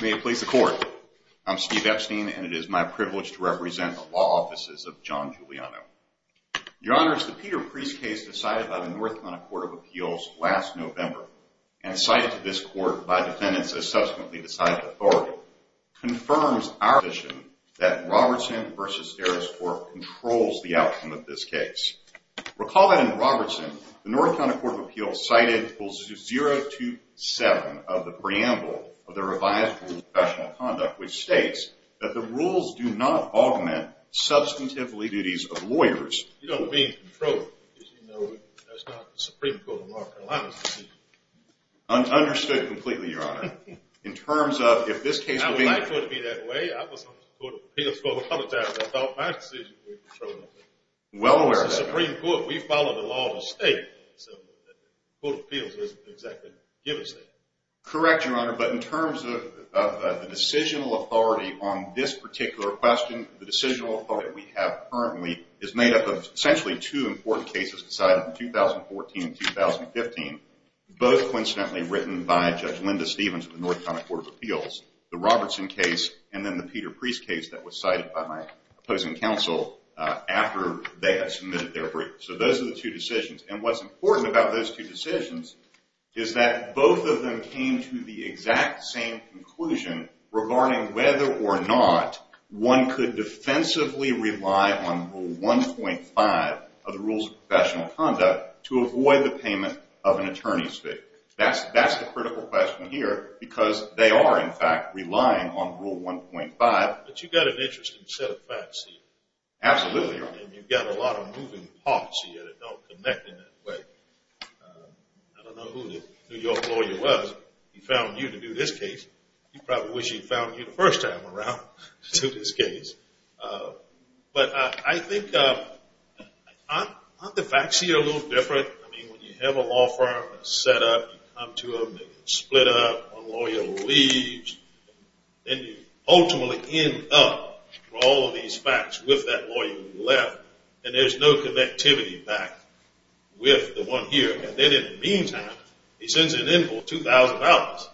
May it please the Court, I'm Steve Epstein and it is my privilege to represent the Law Offices of John Juliano. Your Honor, the Peter Priest case decided by the North Carolina Court of Appeals last November and cited to this Court by defendants as subsequently decided authority confirms our position that Robertson v. Harris Court controls the outcome of this case. Recall that in Robertson, the North Carolina Court of Appeals cited Rules 027 of the preamble of the revised Rules of Professional Conduct, which states that the rules do not augment substantive duties of lawyers. You don't mean control, because you know that's not the Supreme Court of North Carolina's decision. Understood completely, Your Honor. In terms of, if this case were being- I was not going to be that way. I was on the Court of Appeals for a couple of times. I thought my decision would be controlled. Well aware of that. It's the Supreme Court. We follow the law of the state. The Court of Appeals doesn't exactly give us that. Correct, Your Honor, but in terms of the decisional authority on this particular question, the decisional authority that we have currently is made up of essentially two important cases decided in 2014 and 2015. Both coincidentally written by Judge Linda Stephenson. The Robertson case and then the Peter Preece case that was cited by my opposing counsel after they had submitted their brief. So those are the two decisions. And what's important about those two decisions is that both of them came to the exact same conclusion regarding whether or not one could defensively rely on Rule 1.5 of the Rules of Professional Conduct to avoid the payment of an attorney's fee. That's the critical question here because they are, in fact, relying on Rule 1.5. But you've got an interesting set of facts here. Absolutely, Your Honor. And you've got a lot of moving parts here that don't connect in that way. I don't know who the New York lawyer was. He found you to do this case. He probably wish he'd found you the first time around to do this case. But I think aren't the facts here a little different? I mean, when you have a law firm that's set up, you come to them, they get split up, one lawyer leaves. Then you ultimately end up with all of these facts with that lawyer you left, and there's no connectivity back with the one here. And then in the meantime, he sends in an invoice of $2,000. I don't know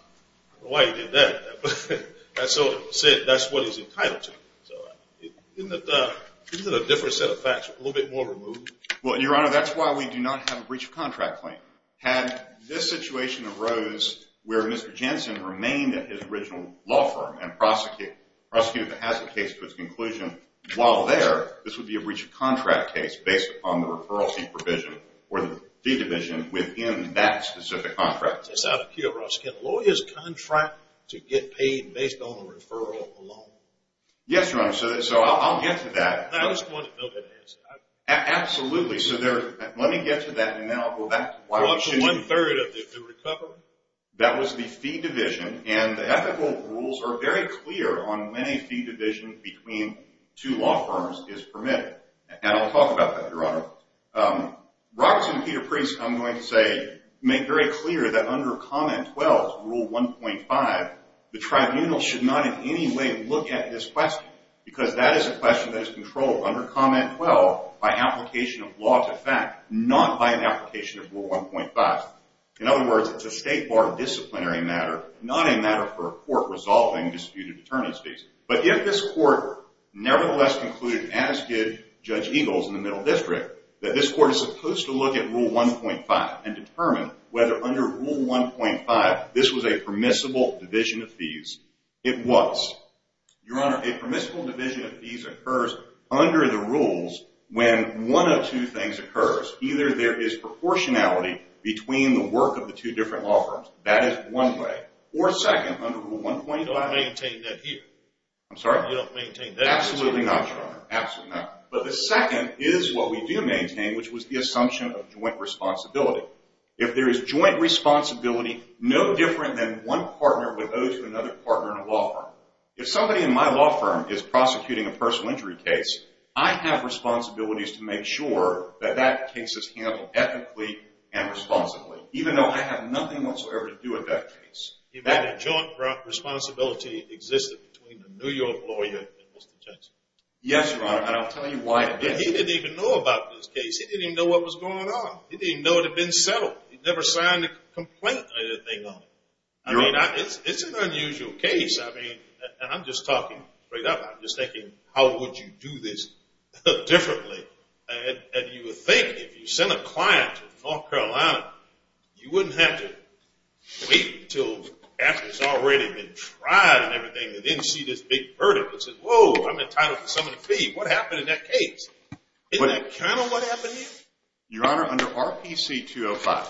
why he did that. But that's what he's entitled to. So isn't a different set of facts a little bit more removed? Well, Your Honor, that's why we do not have a breach of contract claim. Had this situation arose where Mr. Jensen remained at his original law firm and prosecuted the hazard case to its conclusion, while there, this would be a breach of contract case based upon the referral fee provision or the fee division within that specific contract. It's out of cue, Ross. Can lawyers contract to get paid based on the referral alone? Yes, Your Honor. So I'll get to that. I just wanted to know that answer. Absolutely. So let me get to that, and then I'll go back to why we shouldn't. What was one third of the recovery? That was the fee division, and the ethical rules are very clear on when a fee division between two law firms is permitted. And I'll talk about that, Your Honor. Roberts and Peter Priest, I'm going to say, make very clear that under comment 12, rule 1.5, the tribunal should not in any way look at this question, because that is a question that is controlled under comment 12 by application of law to fact, not by an application of rule 1.5. In other words, it's a state bar disciplinary matter, not a matter for a court resolving disputed attorneys' cases. But if this court nevertheless concluded, as did Judge Eagles in the Middle District, that this court is supposed to look at rule 1.5 and determine whether under rule 1.5 this was a permissible division of fees. It was. Your Honor, a permissible division of fees occurs under the rules when one of two things occurs. Either there is proportionality between the work of the two different law firms. That is one way. Or second, under rule 1.5. Do I maintain that here? I'm sorry? You don't maintain that here? Absolutely not, Your Honor. Absolutely not. But the second is what we do maintain, which was the assumption of joint responsibility. If there is joint responsibility, no different than one partner would owe to another partner in a law firm. If somebody in my law firm is prosecuting a personal injury case, I have responsibilities to make sure that that case is handled ethically and responsibly, even though I have nothing whatsoever to do with that case. That joint responsibility existed between the New York lawyer and Mr. Jackson? Yes, Your Honor, and I'll tell you why it did. He didn't even know about this case. He didn't even know what was going on. He didn't even know it had been settled. He never signed a complaint or anything on it. I mean, it's an unusual case. I mean, I'm just talking straight up. I'm just thinking, how would you do this differently? And you would think if you sent a client to North Carolina, you wouldn't have to wait until after it's already been tried and everything. They didn't see this big verdict that says, whoa, I'm entitled to some of the fee. What happened in that case? Isn't that kind of what happened here? Your Honor, under RPC 205,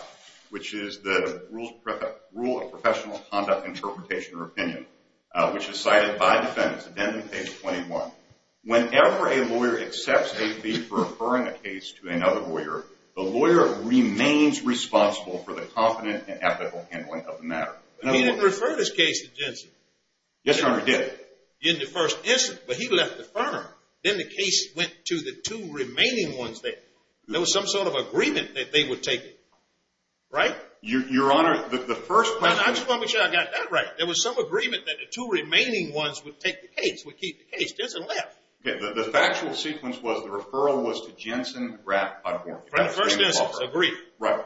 which is the rule of professional conduct interpretation or opinion, which is cited by defendants, addendum page 21, whenever a lawyer accepts a fee for referring a case to another lawyer, the lawyer remains responsible for the confident and ethical handling of the matter. He didn't refer this case to Jensen. Yes, Your Honor, he did. In the first instance, but he left the firm. Then the case went to the two remaining ones there. There was some sort of agreement that they would take it. Right? Your Honor, the first question... I just want to make sure I got that right. There was some agreement that the two remaining ones would take the case, would keep the case. Jensen left. The factual sequence was the referral was to Jensen, Rapp, Podhorn. For the first instance, agreed. Right.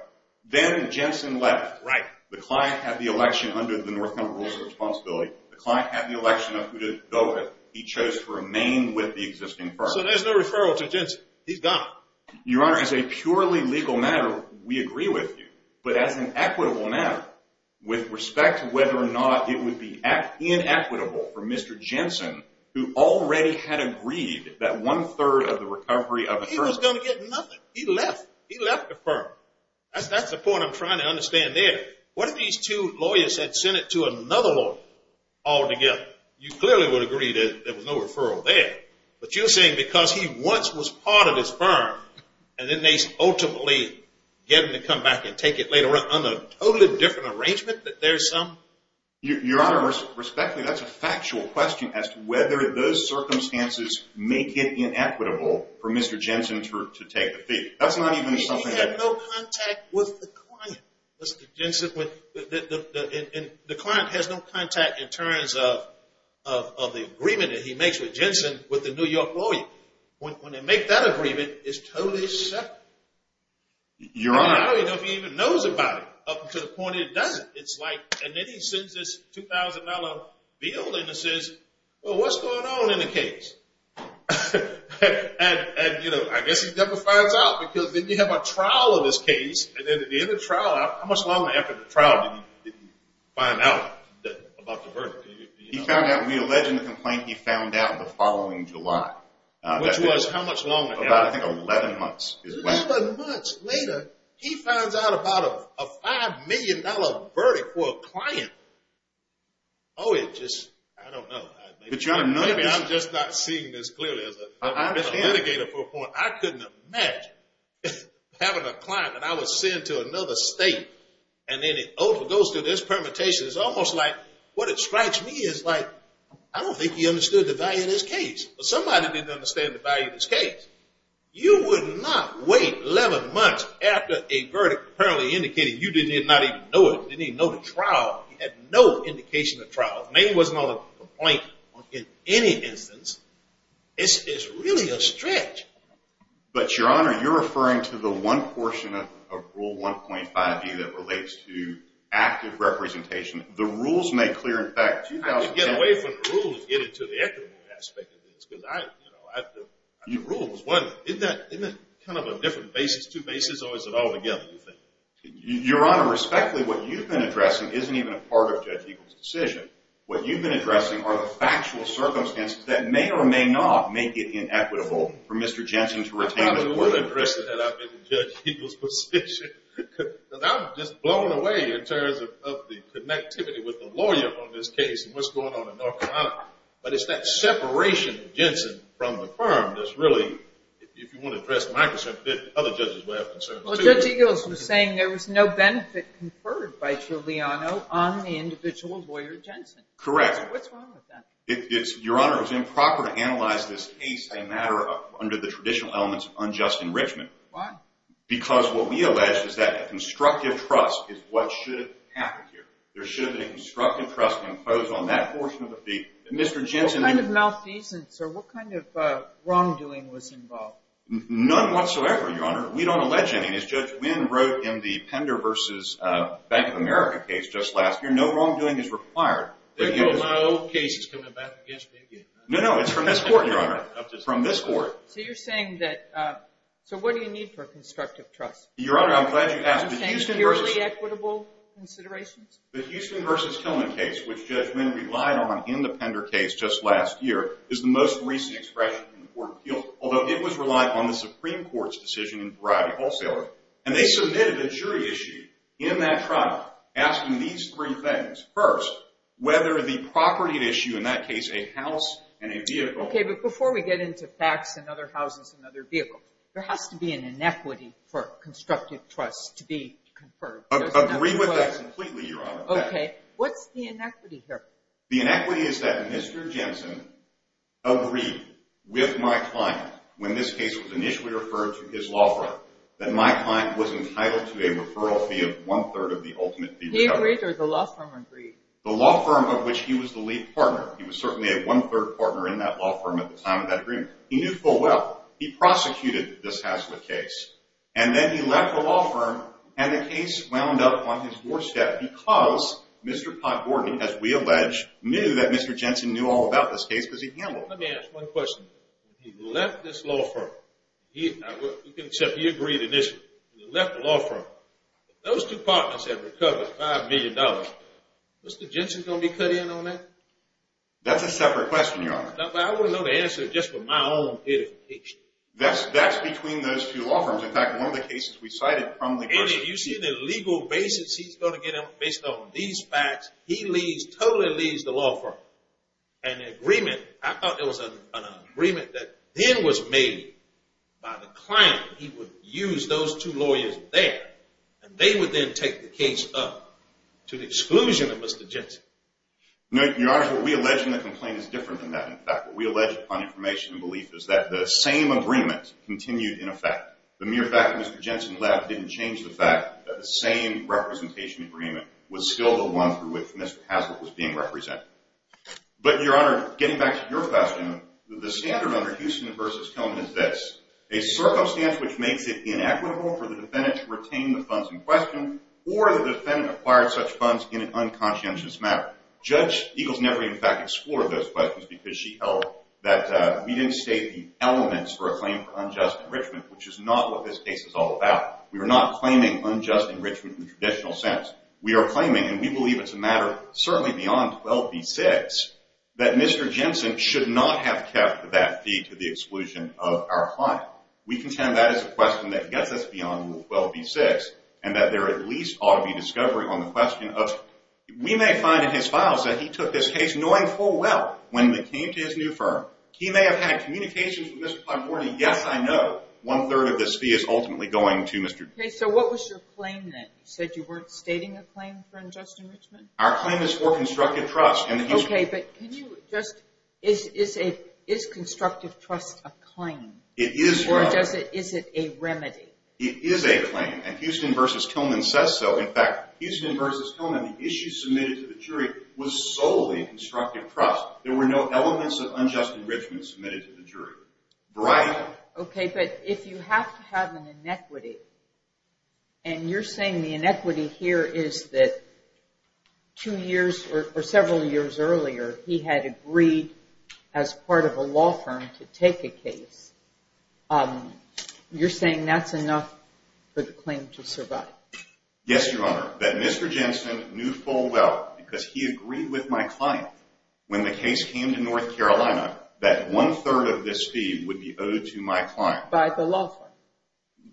Then Jensen left. Right. The client had the election under the North Carolina Rules of Responsibility. The client had the election of who to go with. He chose to remain with the existing firm. So there's no referral to Jensen. He's gone. Your Honor, as a purely legal matter, we agree with you. But as an equitable matter, with respect to whether or not it would be inequitable for Mr. Jensen, who already had agreed that one-third of the recovery of the firm... He was going to get nothing. He left. He left the firm. That's the point I'm trying to understand there. What if these two lawyers had sent it to another lawyer altogether? You clearly would agree that there was no referral there. But you're saying because he once was part of his firm, and then they ultimately get him to come back and take it later on a totally different arrangement that there's some... Your Honor, respectfully, that's a factual question as to whether those circumstances make it inequitable for Mr. Jensen to take the fee. That's not even something that... He had no contact with the client, Mr. Jensen. The client has no contact in terms of the agreement that he makes with Jensen with the New York lawyer. When they make that agreement, it's totally separate. Your Honor... Now he doesn't even know about it, up to the point where he doesn't. And then he sends this $2,000 bill and says, well, what's going on in the case? I guess he never finds out because then you have a trial of this case. And then at the end of the trial, how much longer after the trial did he find out about the verdict? He found out, we allege in the complaint, he found out the following July. Which was how much longer? About, I think, 11 months. 11 months later, he finds out about a $5 million verdict for a client. Oh, it just... I don't know. But Your Honor, none of this... I'm just not seeing this clearly. I've been a litigator for a point. I couldn't imagine having a client that I would send to another state. And then it goes through this permutation. It's almost like... What it strikes me is like, I don't think he understood the value of this case. But somebody didn't understand the value of this case. You would not wait 11 months after a verdict apparently indicating you did not even know it. You didn't even know the trial. You had no indication of trial. Maybe it wasn't on the complaint in any instance. It's really a stretch. But Your Honor, you're referring to the one portion of Rule 1.5e that relates to active representation. The rules make clear, in fact... How do you get away from the rules and get into the equitable aspect of this? Because I, you know, I have to... The rules. Isn't that kind of a different basis? Two bases or is it all together, you think? Your Honor, respectfully, what you've been addressing isn't even a part of Judge Eagle's decision. What you've been addressing are the factual circumstances that may or may not make it inequitable for Mr. Jensen to retain... I probably would have addressed it had I been in Judge Eagle's position. Because I'm just blown away in terms of the connectivity with the lawyer on this case and what's going on in North Carolina. But it's that separation of Jensen from the firm that's really... If you want to address my concern a bit, other judges will have concerns too. Judge Eagle was saying there was no benefit conferred by Giuliano on the individual lawyer Jensen. Correct. What's wrong with that? Your Honor, it's improper to analyze this case as a matter under the traditional elements of unjust enrichment. Why? Because what we allege is that a constructive trust is what should have happened here. There should have been a constructive trust imposed on that portion of the fee that Mr. Jensen... What kind of malfeasance or what kind of wrongdoing was involved? None whatsoever, Your Honor. We don't allege any. As Judge Wynn wrote in the Pender v. Bank of America case just last year, no wrongdoing is required. My old case is coming back against me again. No, no. It's from this court, Your Honor. From this court. So you're saying that... So what do you need for a constructive trust? Your Honor, I'm glad you asked. Purely equitable considerations? The Houston v. Tillman case, which Judge Wynn relied on in the Pender case just last year, is the most recent expression from the Court of Appeals, although it was relied on the Supreme Court's decision in variety wholesaler. And they submitted a jury issue in that trial asking these three things. First, whether the property at issue, in that case a house and a vehicle... Okay, but before we get into facts and other houses and other vehicles, there has to be an inequity for a constructive trust to be conferred. I agree with that completely, Your Honor. Okay. What's the inequity here? The inequity is that Mr. Jensen agreed with my client when this case was initially referred to his law firm that my client was entitled to a referral fee of one-third of the ultimate fee. He agreed or the law firm agreed? The law firm of which he was the lead partner. He was certainly a one-third partner in that law firm at the time of that agreement. He knew full well. He prosecuted this Hazlitt case. And then he left the law firm and the case wound up on his doorstep because Mr. Pott Gordon, as we allege, knew that Mr. Jensen knew all about this case because he handled it. Let me ask one question. He left this law firm. Except he agreed initially. He left the law firm. Those two partners have recovered $5 million. Is Mr. Jensen going to be cut in on that? That's a separate question, Your Honor. I want to know the answer just with my own identification. That's between those two law firms. In fact, one of the cases we cited from the person... And if you see the legal basis he's going to get on based on these facts, he totally leads the law firm. And the agreement, I thought it was an agreement that then was made by the client. He would use those two lawyers there. And they would then take the case up to the exclusion of Mr. Jensen. No, Your Honor. What we allege in the complaint is different than that. In fact, what we allege upon information and belief is that the same agreement continued in effect. The mere fact that Mr. Jensen left didn't change the fact that the same representation agreement was still the one through which Mr. Haslett was being represented. But, Your Honor, getting back to your question, the standard under Houston v. Kilman is this. A circumstance which makes it inequitable for the defendant to retain the funds in question or the defendant acquired such funds in an unconscientious manner. Judge Eagles never in fact explored those questions because she held that we didn't state the elements for a claim for unjust enrichment, which is not what this case is all about. We are not claiming unjust enrichment in the traditional sense. We are claiming, and we believe it's a matter certainly beyond 12b-6, that Mr. Jensen should not have kept that fee to the exclusion of our client. We contend that is a question that gets us beyond 12b-6 and that there at least ought to be discovery on the question of... that he took this case knowing full well when it came to his new firm, he may have had communications with Mr. Platt-Morney, yes, I know, one-third of this fee is ultimately going to Mr. Jensen. Okay, so what was your claim then? You said you weren't stating a claim for unjust enrichment? Our claim is for constructive trust. Okay, but can you just... Is constructive trust a claim? It is a claim. Or is it a remedy? It is a claim, and Houston v. Kilman says so. In fact, Houston v. Kilman, the issue submitted to the jury, was solely constructive trust. There were no elements of unjust enrichment submitted to the jury. Brian? Okay, but if you have to have an inequity, and you're saying the inequity here is that two years or several years earlier he had agreed as part of a law firm to take a case, you're saying that's enough for the claim to survive? Yes, Your Honor. That Mr. Jensen knew full well, because he agreed with my client, when the case came to North Carolina, that one-third of this fee would be owed to my client. By the law firm?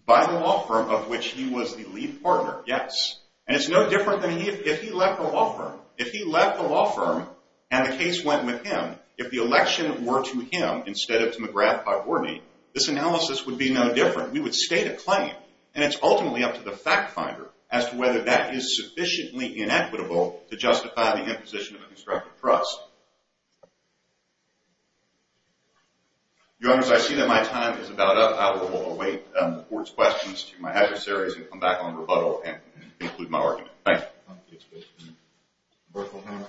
By the law firm of which he was the lead partner, yes. And it's no different than if he left the law firm. If he left the law firm and the case went with him, if the election were to him instead of to McGrath v. Borney, this analysis would be no different. We would state a claim, and it's ultimately up to the fact finder as to whether that is sufficiently inequitable to justify the imposition of a constructive trust. Your Honors, I see that my time is about up. I will await the Court's questions to my adversaries and come back on rebuttal and conclude my argument. Thank you. Thank you. Brooke O'Hara.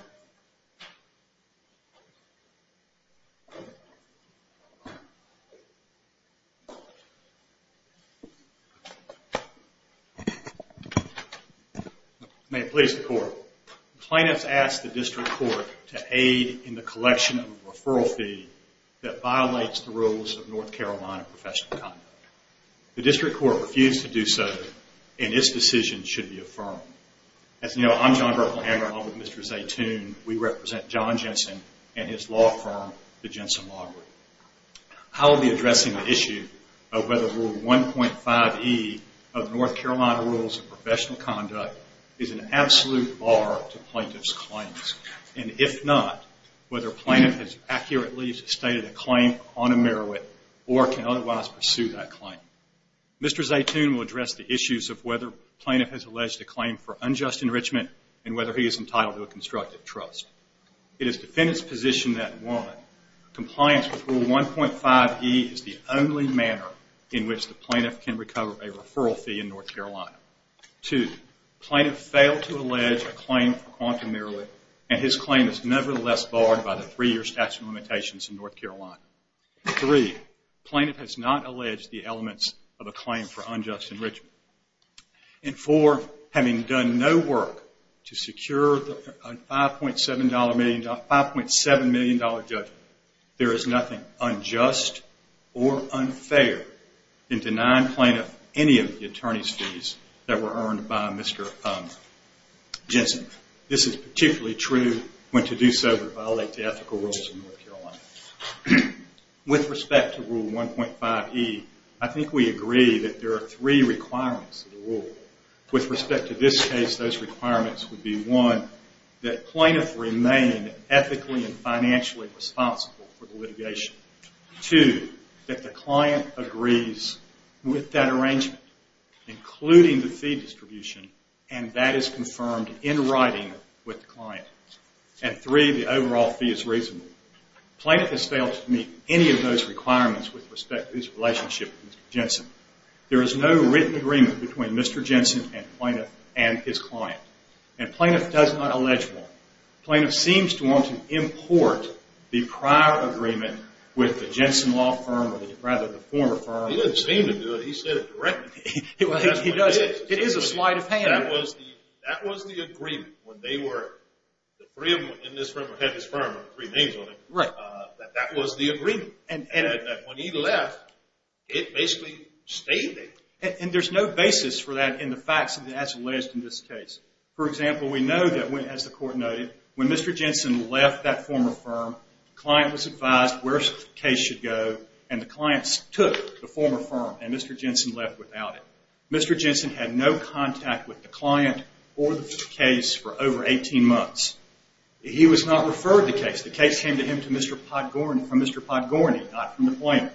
May it please the Court. The plaintiff has asked the District Court to aid in the collection of a referral fee that violates the rules of North Carolina professional conduct. The District Court refused to do so, and its decision should be affirmed. As you know, I'm John Berkley Hammer. Along with Mr. Zaytoon, we represent John Jensen and his law firm, the Jensen Law Group. I will be addressing the issue of whether Rule 1.5E of North Carolina Rules of Professional Conduct is an absolute bar to plaintiff's claims, and if not, whether a plaintiff has accurately stated a claim on a merit or can otherwise pursue that claim. Mr. Zaytoon will address the issues of whether plaintiff has alleged a claim for unjust enrichment and whether he is entitled to a constructive trust. It is defendant's position that, one, compliance with Rule 1.5E is the only manner in which the plaintiff can recover a referral fee in North Carolina. Two, plaintiff failed to allege a claim for quantum merely, and his claim is nevertheless barred by the three-year statute of limitations in North Carolina. Three, plaintiff has not alleged the elements of a claim for unjust enrichment. And four, having done no work to secure a $5.7 million judgment, there is nothing unjust or unfair in denying plaintiff any of the attorney's fees that were earned by Mr. Jensen. This is particularly true when to do so would violate the ethical rules of North Carolina. With respect to Rule 1.5E, I think we agree that there are three requirements of the rule. With respect to this case, those requirements would be, one, that plaintiff remain ethically and financially responsible for the litigation. Two, that the client agrees with that arrangement, including the fee distribution, and that is confirmed in writing with the client. And three, the overall fee is reasonable. Plaintiff has failed to meet any of those requirements with respect to his relationship with Mr. Jensen. There is no written agreement between Mr. Jensen and plaintiff and his client. And plaintiff does not allege one. Plaintiff seems to want to import the prior agreement with the Jensen Law firm, or rather the former firm. He doesn't seem to do it. He said it directly. He does. It is a slight of hand. That was the agreement when they were, the three of them in this room had his firm, three names on it, that that was the agreement. And when he left, it basically stayed there. And there's no basis for that in the facts as alleged in this case. For example, we know that, as the court noted, when Mr. Jensen left that former firm, the client was advised where the case should go, and the client took the former firm, and Mr. Jensen left without it. Mr. Jensen had no contact with the client or the case for over 18 months. He was not referred to the case. The case came to him from Mr. Podgorny, not from the plaintiff.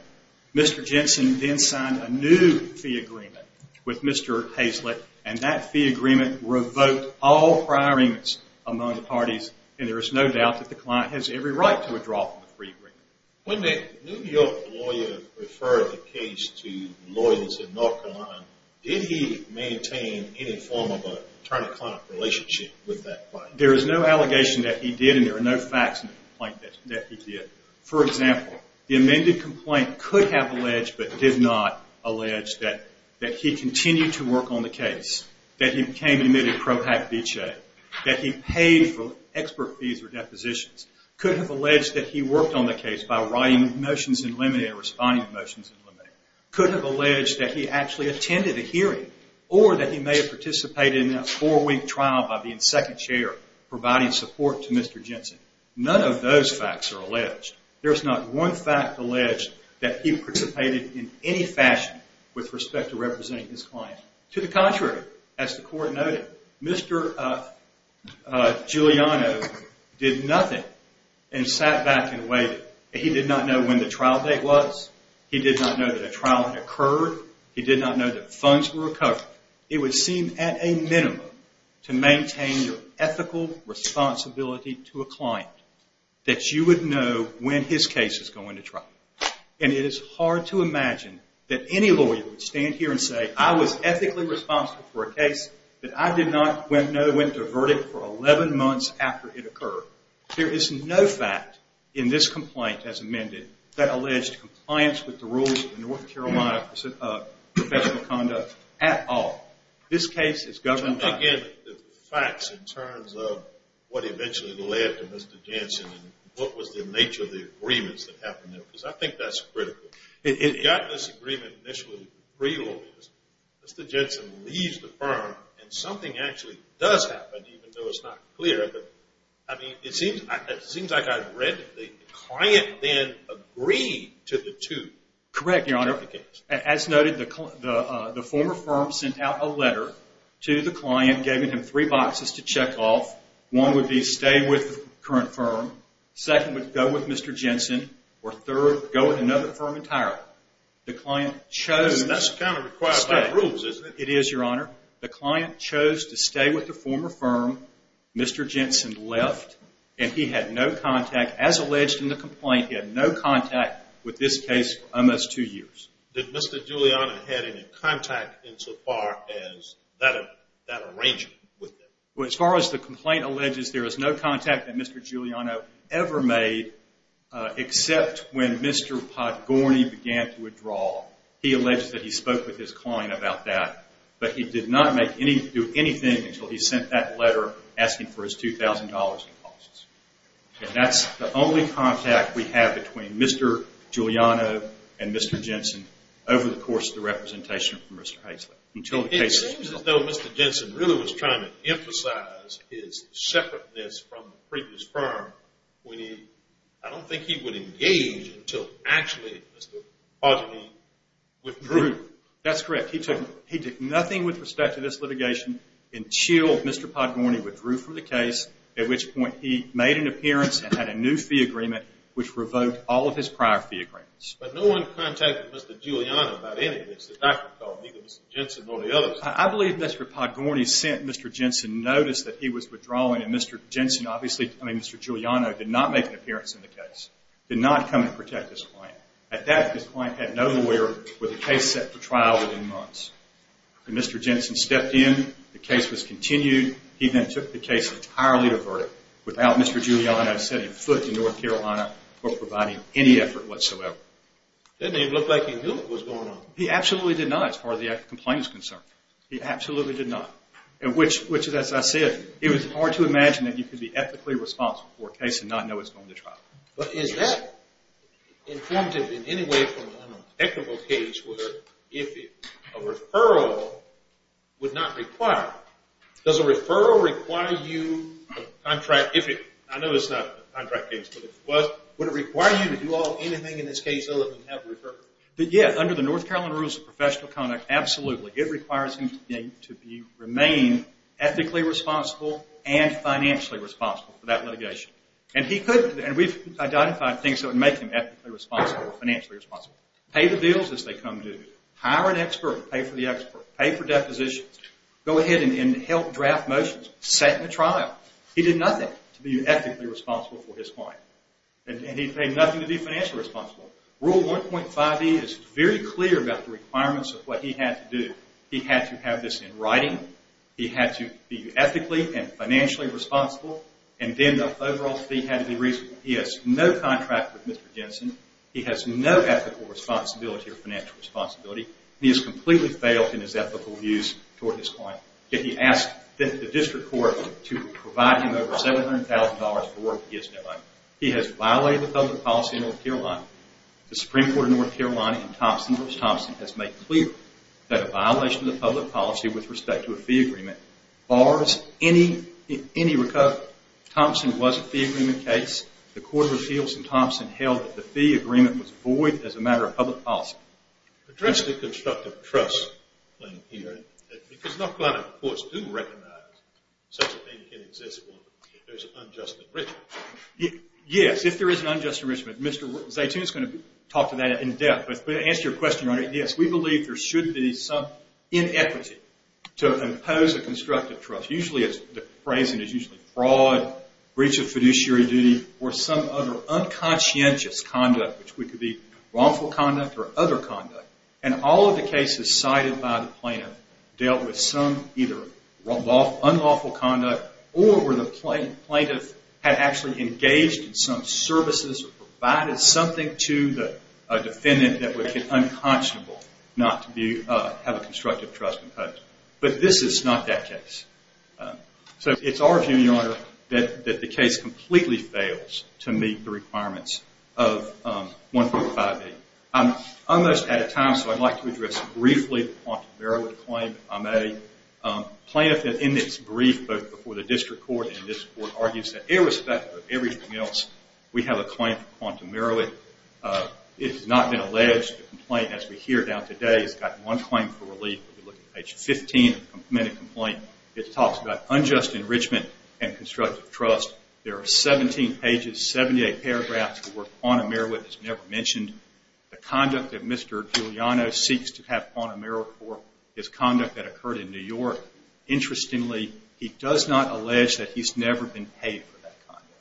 Mr. Jensen then signed a new fee agreement with Mr. Hazlett, and that fee agreement revoked all prior agreements among the parties, and there is no doubt that the client has every right to withdraw from the free agreement. When the New York lawyer referred the case to lawyers in North Carolina, did he maintain any form of an attorney-client relationship with that client? There is no allegation that he did, and there are no facts in the complaint that he did. For example, the amended complaint could have alleged, but did not allege, that he continued to work on the case, that he became admitted pro hac vice, that he paid for expert fees or depositions, could have alleged that he worked on the case by writing motions in limine or responding to motions in limine, could have alleged that he actually attended a hearing, or that he may have participated in a four-week trial by being second chair, providing support to Mr. Jensen. None of those facts are alleged. There is not one fact alleged that he participated in any fashion with respect to representing his client. To the contrary, as the court noted, Mr. Giuliano did nothing and sat back and waited. He did not know when the trial date was. He did not know that a trial had occurred. He did not know that funds were recovered. It would seem at a minimum to maintain your ethical responsibility to a client that you would know when his case is going to trial. And it is hard to imagine that any lawyer would stand here and say, I was ethically responsible for a case that I did not know went to a verdict for 11 months after it occurred. There is no fact in this complaint as amended that alleged compliance with the rules of the North Carolina Office of Professional Conduct at all. This case is governed by... Tell me again the facts in terms of what eventually led to Mr. Jensen and what was the nature of the agreements that happened there, because I think that's critical. It got this agreement initially, Mr. Jensen leaves the firm and something actually does happen, even though it's not clear. I mean, it seems like I've read the client then agreed to the two. Correct, Your Honor. As noted, the former firm sent out a letter to the client, gave him three boxes to check off. One would be stay with the current firm. Second would go with Mr. Jensen. Or third, go with another firm entirely. The client chose to stay. That's kind of required by the rules, isn't it? It is, Your Honor. The client chose to stay with the former firm. Mr. Jensen left, and he had no contact. As alleged in the complaint, he had no contact with this case for almost two years. Did Mr. Giuliano have any contact insofar as that arrangement? As far as the complaint alleges, there was no contact that Mr. Giuliano ever made except when Mr. Podgorny began to withdraw. He alleged that he spoke with his client about that, but he did not do anything until he sent that letter asking for his $2,000 in costs. And that's the only contact we have between Mr. Giuliano and Mr. Jensen over the course of the representation from Mr. Haislip. It seems as though Mr. Jensen really was trying to emphasize his separateness from the previous firm. I don't think he would engage until actually Mr. Podgorny withdrew. That's correct. He did nothing with respect to this litigation until Mr. Podgorny withdrew from the case, at which point he made an appearance and had a new fee agreement which revoked all of his prior fee agreements. But no one contacted Mr. Giuliano about any of this. The doctor called, neither Mr. Jensen nor the others. I believe Mr. Podgorny sent Mr. Jensen notice that he was withdrawing, and Mr. Juliano did not make an appearance in the case, did not come to protect his client. At that point, his client had no lawyer, with the case set for trial within months. When Mr. Jensen stepped in, the case was continued. He then took the case entirely to verdict without Mr. Giuliano setting foot in North Carolina or providing any effort whatsoever. It didn't even look like he knew what was going on. He absolutely did not, as far as the complaint is concerned. He absolutely did not, which, as I said, it was hard to imagine that you could be ethically responsible for a case and not know it's going to trial. But is that informative in any way from an equitable case where if a referral would not require, does a referral require you to contract, I know it's not a contract case, but would it require you to do anything in this case other than have a referral? Yeah, under the North Carolina Rules of Professional Conduct, absolutely. It requires him to remain ethically responsible and financially responsible for that litigation. And he could, and we've identified things that would make him ethically responsible or financially responsible. Pay the bills as they come due. Hire an expert, pay for the expert. Pay for depositions. Go ahead and help draft motions. Set in a trial. He did nothing to be ethically responsible for his client. And he paid nothing to be financially responsible. Rule 1.5E is very clear about the requirements of what he had to do. He had to have this in writing. He had to be ethically and financially responsible. And then the overall fee had to be reasonable. He has no contract with Mr. Jensen. He has no ethical responsibility or financial responsibility. He has completely failed in his ethical views toward his client. Yet he asked the district court to provide him over $700,000 for work he has no idea. He has violated the public policy in North Carolina. The Supreme Court of North Carolina in Thompson v. Thompson has made clear that a violation of the public policy with respect to a fee agreement bars any recovery. Thompson was a fee agreement case. The Court of Appeals in Thompson held that the fee agreement was void as a matter of public policy. Address the constructive trust thing here. Because North Carolina courts do recognize such a thing can exist if there is an unjust enrichment. Yes, if there is an unjust enrichment. Mr. Zaytoon is going to talk to that in depth. But to answer your question, Your Honor, yes. We believe there should be some inequity to impose a constructive trust. Usually the phrasing is fraud, breach of fiduciary duty, or some other unconscientious conduct, which could be wrongful conduct or other conduct. All of the cases cited by the plaintiff dealt with some either unlawful conduct or where the plaintiff had actually engaged in some services or provided something to the defendant that would be unconscionable not to have a constructive trust imposed. But this is not that case. So it's our view, Your Honor, that the case completely fails to meet the requirements of 145A. I'm almost out of time, so I'd like to address briefly the quantum error with the claim I made. Plaintiff in its brief, both before the district court and this court, argues that irrespective of everything else, we have a claim for quantum error. It has not been alleged. The complaint, as we hear now today, has got one claim for relief. If you look at page 15 of the committed complaint, it talks about unjust enrichment and constructive trust. There are 17 pages, 78 paragraphs, where quantum error is never mentioned. The conduct that Mr. Giuliano seeks to have quantum error for is conduct that occurred in New York. Interestingly, he does not allege that he's never been paid for that conduct.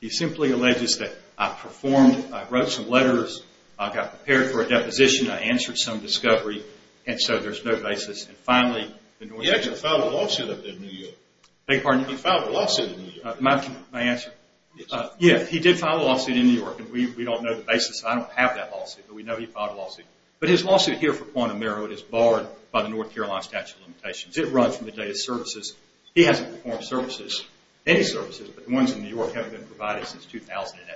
He simply alleges that I performed, I wrote some letters, I got prepared for a deposition, I answered some discovery, and so there's no basis. He actually filed a lawsuit up there in New York. He filed a lawsuit in New York. May I answer? Yes. He did file a lawsuit in New York, and we don't know the basis. I don't have that lawsuit, but we know he filed a lawsuit. But his lawsuit here for quantum error is barred by the North Carolina statute of limitations. It runs from the day of services. He hasn't performed services, any services, but the ones in New York haven't been provided since 2008.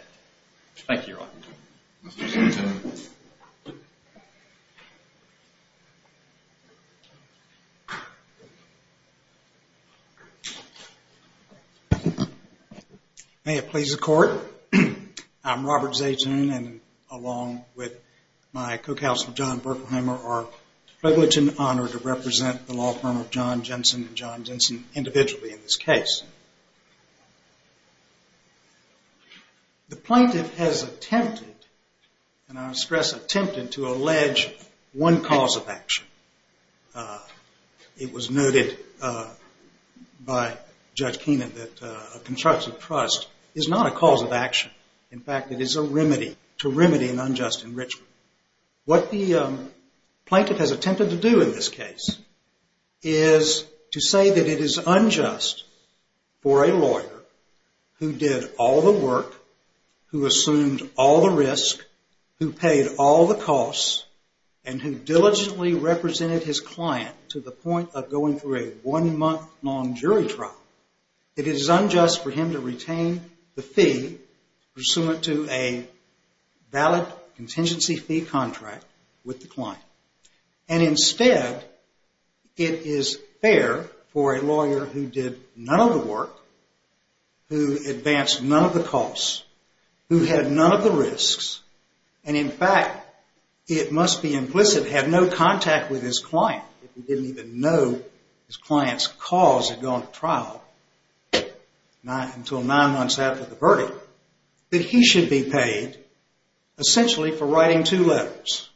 May it please the Court. I'm Robert Zaytoon, and along with my co-counsel, John Berkelheimer, are privileged and honored to represent the law firm of John Jensen and John Jensen individually in this case. The plaintiff has attempted, and I stress attempted, to allege one cause of action. It was noted by Judge Keenan that a constructive trust is not a cause of action. In fact, it is a remedy to remedy an unjust enrichment. What the plaintiff has attempted to do in this case is to say that it is unjust for a lawyer who did all the work, who assumed all the risk, who paid all the costs, and who diligently represented his client to the point of going through a one-month-long jury trial. It is unjust for him to retain the fee pursuant to a valid contingency fee contract with the client. And instead, it is fair for a lawyer who did none of the work, who advanced none of the costs, who had none of the risks, and in fact, it must be implicit, had no contact with his client. If he didn't even know his client's cause had gone to trial until nine months after the verdict, that he should be paid essentially for writing two letters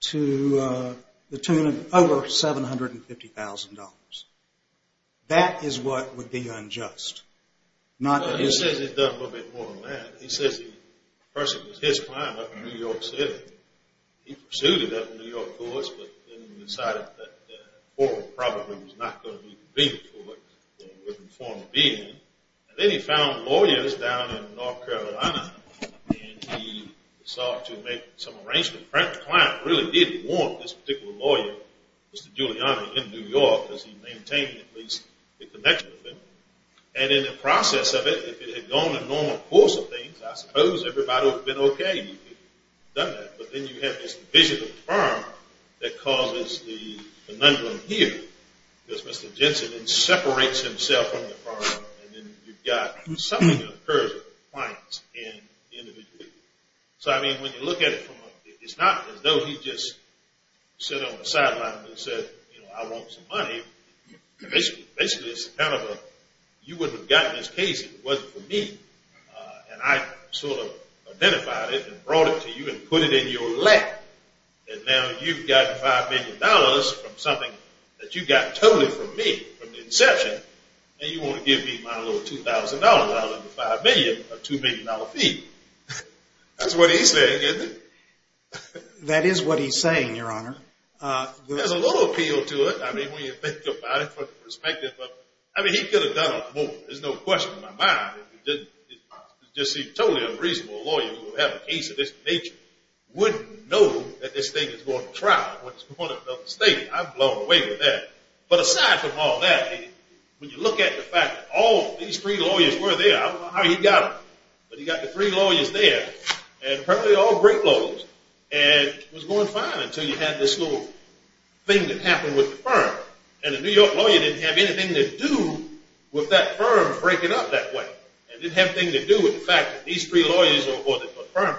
to the tune of over $750,000. That is what would be unjust. He says he's done a little bit more than that. He says the person was his client up in New York City. He pursued it up in New York courts, but then decided that a forum probably was not going to be convenient for him in the form of being. And then he found lawyers down in North Carolina, and he sought to make some arrangements. The client really did want this particular lawyer, Mr. Giuliani, in New York, because he maintained at least the connection with him. And in the process of it, if it had gone in the normal course of things, I suppose everybody would have been okay. But then you have this vision of the firm that causes the conundrum here, because Mr. Jensen then separates himself from the firm, and then you've got something that occurs with the client and the individual. So, I mean, when you look at it, it's not as though he just sat on the sideline and said, you know, I want some money. Basically, it's kind of a, you wouldn't have gotten this case if it wasn't for me. And I sort of identified it and brought it to you and put it in your lap. And now you've got $5 million from something that you got totally from me, from the inception, and you want to give me my little $2,000 rather than the $5 million, a $2 million fee. That's what he's saying, isn't it? That is what he's saying, Your Honor. There's a little appeal to it. I mean, when you think about it from the perspective of, I mean, he could have done a lot more. There's no question in my mind. It just seems totally unreasonable. A lawyer who would have a case of this nature wouldn't know that this thing is going to trial. What a mistake. I'm blown away with that. But aside from all that, when you look at the fact that all these three lawyers were there, I don't know how he got them, but he got the three lawyers there, and apparently all great lawyers, and it was going fine until you had this little thing that happened with the firm. And the New York lawyer didn't have anything to do with that firm breaking up that way. It didn't have anything to do with the fact that these three lawyers or the firm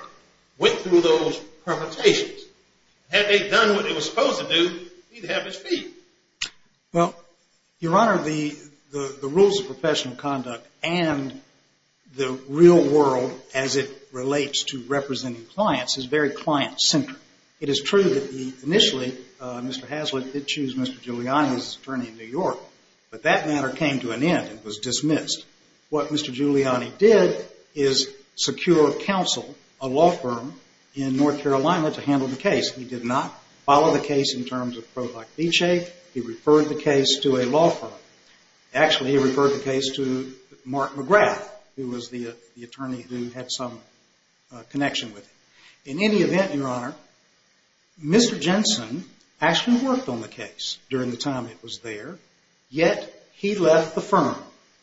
went through those permutations. Had they done what they were supposed to do, he'd have his feet. Well, Your Honor, the rules of professional conduct and the real world as it relates to representing clients is very client-centric. It is true that initially Mr. Hazlitt did choose Mr. Giuliani as his attorney in New York, but that matter came to an end. It was dismissed. What Mr. Giuliani did is secure counsel, a law firm in North Carolina, to handle the case. He did not follow the case in terms of Provoct Viche. He referred the case to a law firm. Actually, he referred the case to Mark McGrath, who was the attorney who had some connection with him. In any event, Your Honor, Mr. Jensen actually worked on the case during the time it was there, yet he left the firm.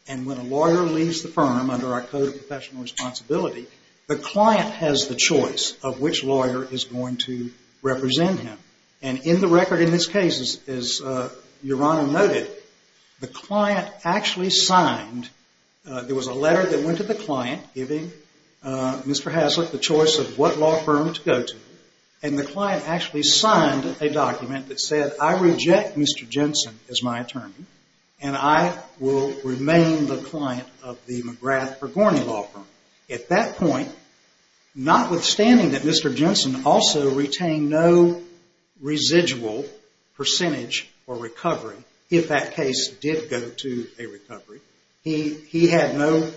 And when a lawyer leaves the firm under our Code of Professional Responsibility, the client has the choice of which lawyer is going to represent him. And in the record in this case, as Your Honor noted, the client actually signed. There was a letter that went to the client giving Mr. Hazlitt the choice of what law firm to go to, and the client actually signed a document that said, I reject Mr. Jensen as my attorney and I will remain the client of the McGrath or Gorney law firm. At that point, notwithstanding that Mr. Jensen also retained no residual percentage for recovery, if that case did go to a recovery. He had no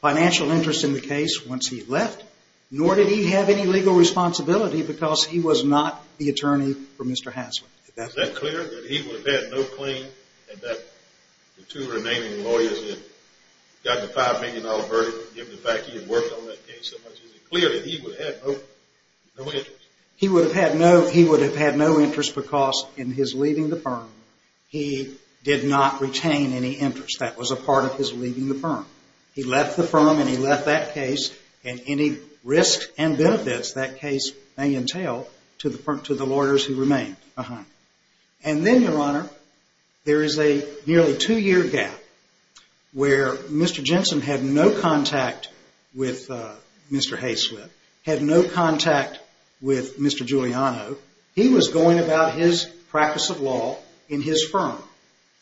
financial interest in the case once he left, nor did he have any legal responsibility because he was not the attorney for Mr. Hazlitt. Is that clear? That he would have had no claim and that the two remaining lawyers had gotten a $5 million verdict given the fact he had worked on that case so much? Is it clear that he would have had no interest? He would have had no interest because in his leaving the firm, he did not retain any interest. That was a part of his leaving the firm. He left the firm and he left that case, and any risks and benefits that case may entail to the lawyers who remain. And then, Your Honor, there is a nearly two-year gap where Mr. Jensen had no contact with Mr. Hazlitt, had no contact with Mr. Giuliano. He was going about his practice of law in his firm,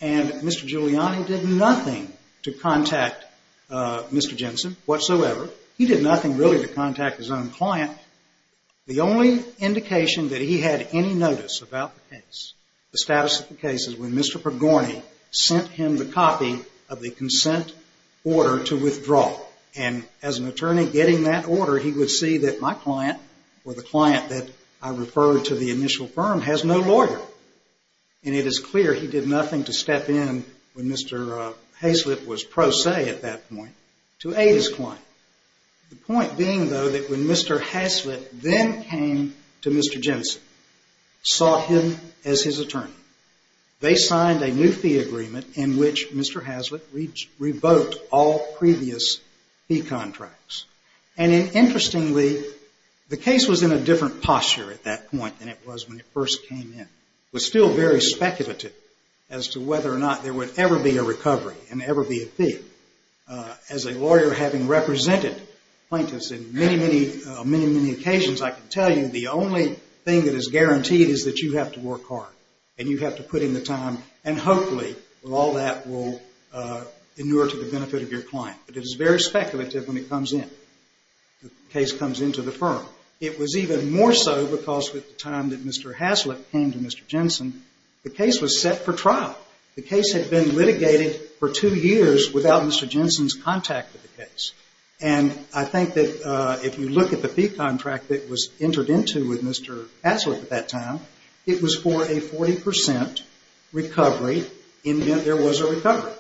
and Mr. Giuliani did nothing to contact Mr. Jensen whatsoever. He did nothing really to contact his own client. The only indication that he had any notice about the case, the status of the case is when Mr. Pergorni sent him the copy of the consent order to withdraw. And as an attorney getting that order, he would see that my client or the client that I referred to the initial firm has no lawyer. And it is clear he did nothing to step in when Mr. Hazlitt was pro se at that point to aid his client. The point being, though, that when Mr. Hazlitt then came to Mr. Jensen, saw him as his attorney, they signed a new fee agreement in which Mr. Hazlitt revoked all previous fee contracts. And interestingly, the case was in a different posture at that point than it was when it first came in. It was still very speculative as to whether or not there would ever be a recovery and ever be a fee. As a lawyer having represented plaintiffs in many, many occasions, I can tell you the only thing that is guaranteed is that you have to work hard and you have to put in the time and hopefully all that will inure to the benefit of your client. But it is very speculative when it comes in, the case comes into the firm. It was even more so because at the time that Mr. Hazlitt came to Mr. Jensen, the case was set for trial. The case had been litigated for two years without Mr. Jensen's contact with the case. And I think that if you look at the fee contract that was entered into with Mr. Hazlitt at that time, it was for a 40 percent recovery in that there was a recovery.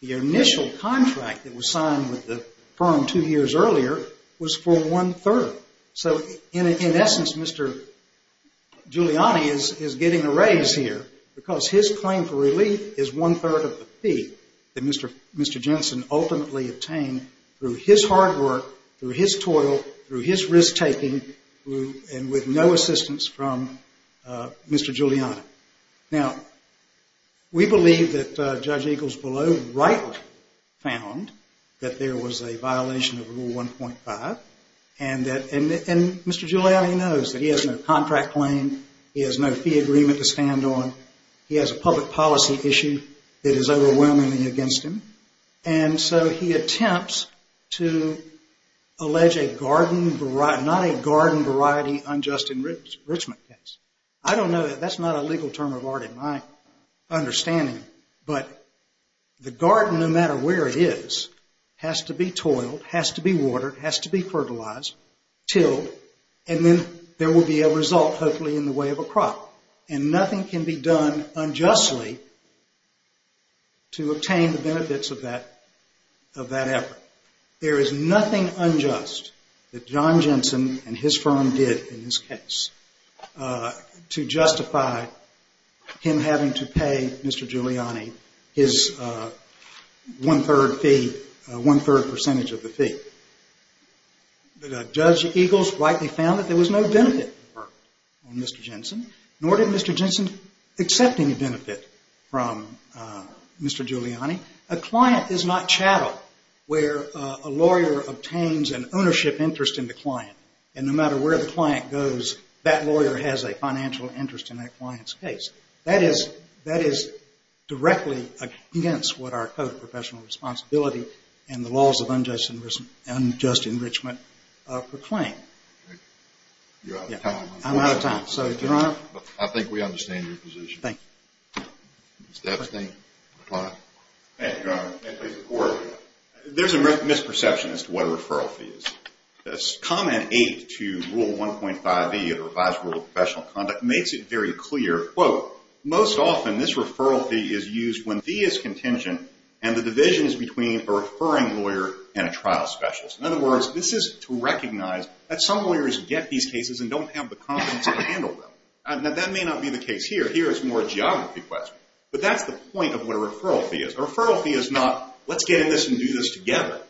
The initial contract that was signed with the firm two years earlier was for one-third. So in essence, Mr. Giuliani is getting a raise here because his claim for relief is one-third of the fee that Mr. Jensen ultimately obtained through his hard work, through his toil, through his risk-taking, and with no assistance from Mr. Giuliani. Now, we believe that Judge Eaglesbelow rightly found that there was a violation of Rule 1.5, and Mr. Giuliani knows that he has no contract claim, he has no fee agreement to stand on, he has a public policy issue that is overwhelming against him, and so he attempts to allege a garden, not a garden variety unjust enrichment case. I don't know, that's not a legal term of art in my understanding, but the garden, no matter where it is, has to be toiled, has to be watered, has to be fertilized, tilled, and then there will be a result hopefully in the way of a crop, and nothing can be done unjustly to obtain the benefits of that effort. There is nothing unjust that John Jensen and his firm did in this case to justify him having to pay Mr. Giuliani his one-third fee, one-third percentage of the fee. Judge Eagles rightly found that there was no benefit on Mr. Jensen, nor did Mr. Jensen accept any benefit from Mr. Giuliani. A client is not chattel where a lawyer obtains an ownership interest in the client, and no matter where the client goes, that lawyer has a financial interest in that client's case. That is directly against what our Code of Professional Responsibility and the laws of unjust enrichment proclaim. I'm out of time, so, Your Honor. There's a misperception as to what a referral fee is. Comment 8 to Rule 1.5e of the Revised Rule of Professional Conduct makes it very clear, quote, most often this referral fee is used when fee is contingent and the division is between a referring lawyer and a trial specialist. In other words, this is to recognize that some lawyers get these cases and don't have the confidence to handle them. Now, that may not be the case here. Here it's more a geography question. But that's the point of what a referral fee is. A referral fee is not, let's get in this and do this together.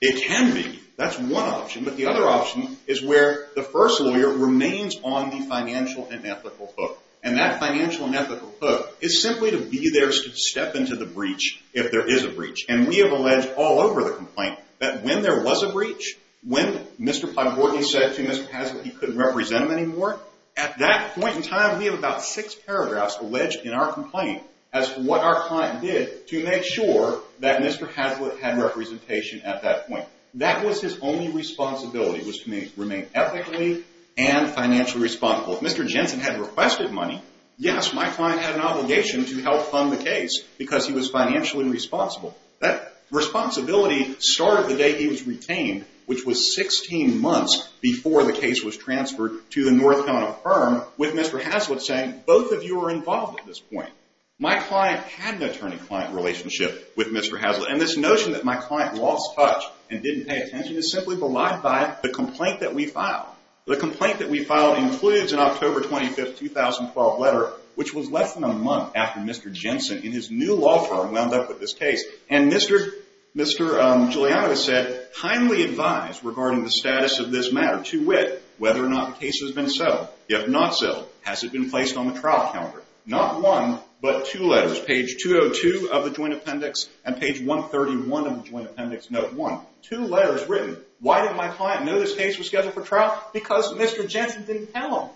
It can be. That's one option. But the other option is where the first lawyer remains on the financial and ethical hook. And that financial and ethical hook is simply to be there to step into the breach if there is a breach. And we have alleged all over the complaint that when there was a breach, when Mr. Platt-Horton said to Mr. Hazlett he couldn't represent him anymore, at that point in time we have about six paragraphs alleged in our complaint as to what our client did to make sure that Mr. Hazlett had representation at that point. That was his only responsibility was to remain ethically and financially responsible. If Mr. Jensen had requested money, yes, my client had an obligation to help fund the case because he was financially responsible. That responsibility started the day he was retained, which was 16 months before the case was transferred to the North Carolina firm, with Mr. Hazlett saying, both of you are involved at this point. My client had an attorney-client relationship with Mr. Hazlett. And this notion that my client lost touch and didn't pay attention is simply belied by the complaint that we filed. The complaint that we filed includes an October 25, 2012 letter, which was less than a month after Mr. Jensen in his new law firm wound up with this case. And Mr. Giuliano has said, I am kindly advised regarding the status of this matter to wit, whether or not the case has been settled. If not settled, has it been placed on the trial calendar? Not one, but two letters, page 202 of the joint appendix and page 131 of the joint appendix, note one. Two letters written. Why did my client know this case was scheduled for trial? Because Mr. Jensen didn't tell him.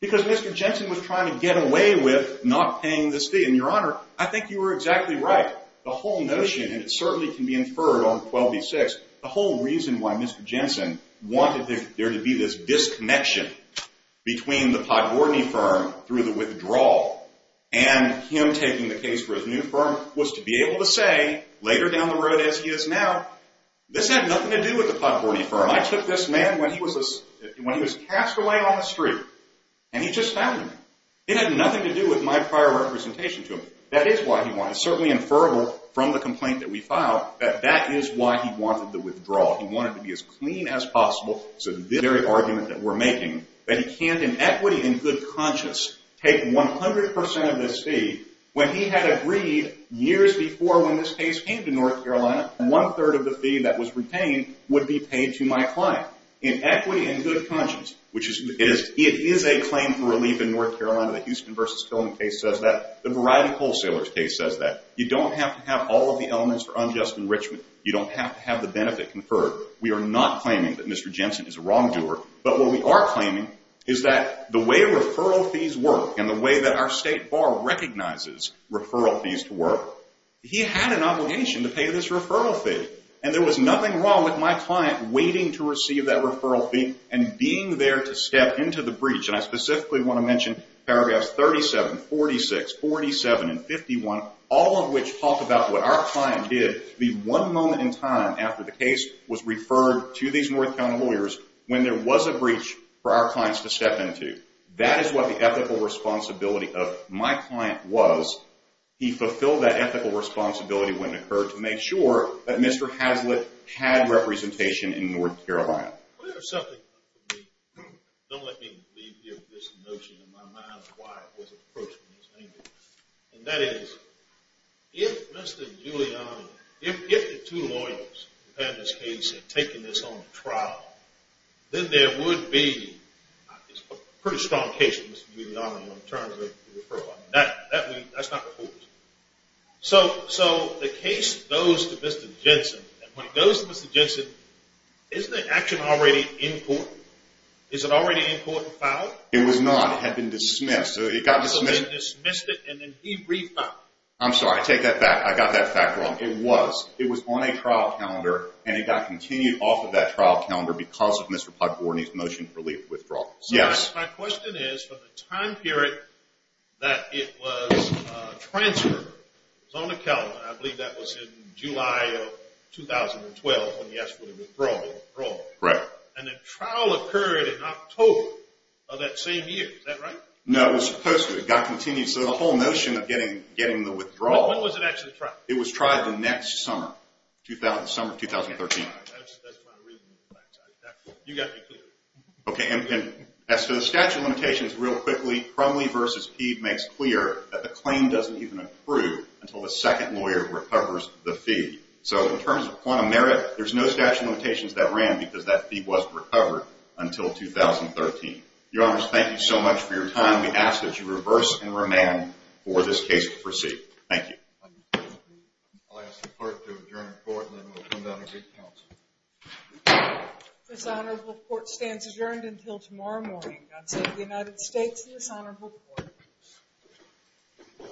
Because Mr. Jensen was trying to get away with not paying this fee. And, Your Honor, I think you were exactly right. The whole notion, and it certainly can be inferred on 12b-6, the whole reason why Mr. Jensen wanted there to be this disconnection between the Podgorny firm through the withdrawal and him taking the case for his new firm was to be able to say, later down the road as he is now, this had nothing to do with the Podgorny firm. I took this man when he was cast away on the street, and he just found him. It had nothing to do with my prior representation to him. That is why he wanted, certainly inferrable from the complaint that we filed, that that is why he wanted the withdrawal. He wanted to be as clean as possible. So the very argument that we're making, that he can't in equity and good conscience take 100% of this fee when he had agreed years before when this case came to North Carolina, one-third of the fee that was retained would be paid to my client. In equity and good conscience, which it is a claim for relief in North Carolina, the Houston v. Killen case says that. The Variety Wholesalers case says that. You don't have to have all of the elements for unjust enrichment. You don't have to have the benefit conferred. We are not claiming that Mr. Jensen is a wrongdoer, but what we are claiming is that the way referral fees work and the way that our state bar recognizes referral fees to work, he had an obligation to pay this referral fee, and there was nothing wrong with my client waiting to receive that referral fee and being there to step into the breach. And I specifically want to mention paragraphs 37, 46, 47, and 51, all of which talk about what our client did the one moment in time after the case was referred to these North Carolina lawyers when there was a breach for our clients to step into. That is what the ethical responsibility of my client was. He fulfilled that ethical responsibility when it occurred to make sure that Mr. Hazlitt had representation in North Carolina. Don't let me leave you with this notion in my mind of why it was approached in this way. And that is, if Mr. Giuliano, if the two lawyers who had this case had taken this on trial, then there would be a pretty strong case for Mr. Giuliano in terms of referral. That's not the purpose. So the case goes to Mr. Jensen, and when it goes to Mr. Jensen, isn't the action already in court? Is it already in court and filed? It was not. It had been dismissed. So it got dismissed. So they dismissed it, and then he refiled. I'm sorry. I take that back. I got that fact wrong. It was. It was on a trial calendar, and it got continued off of that trial calendar because of Mr. Pogborni's motion to relieve withdrawal. So my question is, for the time period that it was transferred, it was on the calendar. I believe that was in July of 2012 when he asked for the withdrawal. Right. And the trial occurred in October of that same year. Is that right? No, it was supposed to. It got continued. So the whole notion of getting the withdrawal. When was it actually tried? It was tried the next summer, the summer of 2013. That's not a reasonable fact. You've got to be clear. Okay. And as to the statute of limitations, real quickly, Crumley v. Peave makes clear that the claim doesn't even approve until the second lawyer recovers the fee. So in terms of quantum merit, there's no statute of limitations that ran because that fee wasn't recovered until 2013. Your Honors, thank you so much for your time. We ask that you reverse and remand for this case to proceed. Thank you. I'll ask the clerk to adjourn the court, and then we'll come down and re-counsel. This honorable court stands adjourned until tomorrow morning. God save the United States and this honorable court.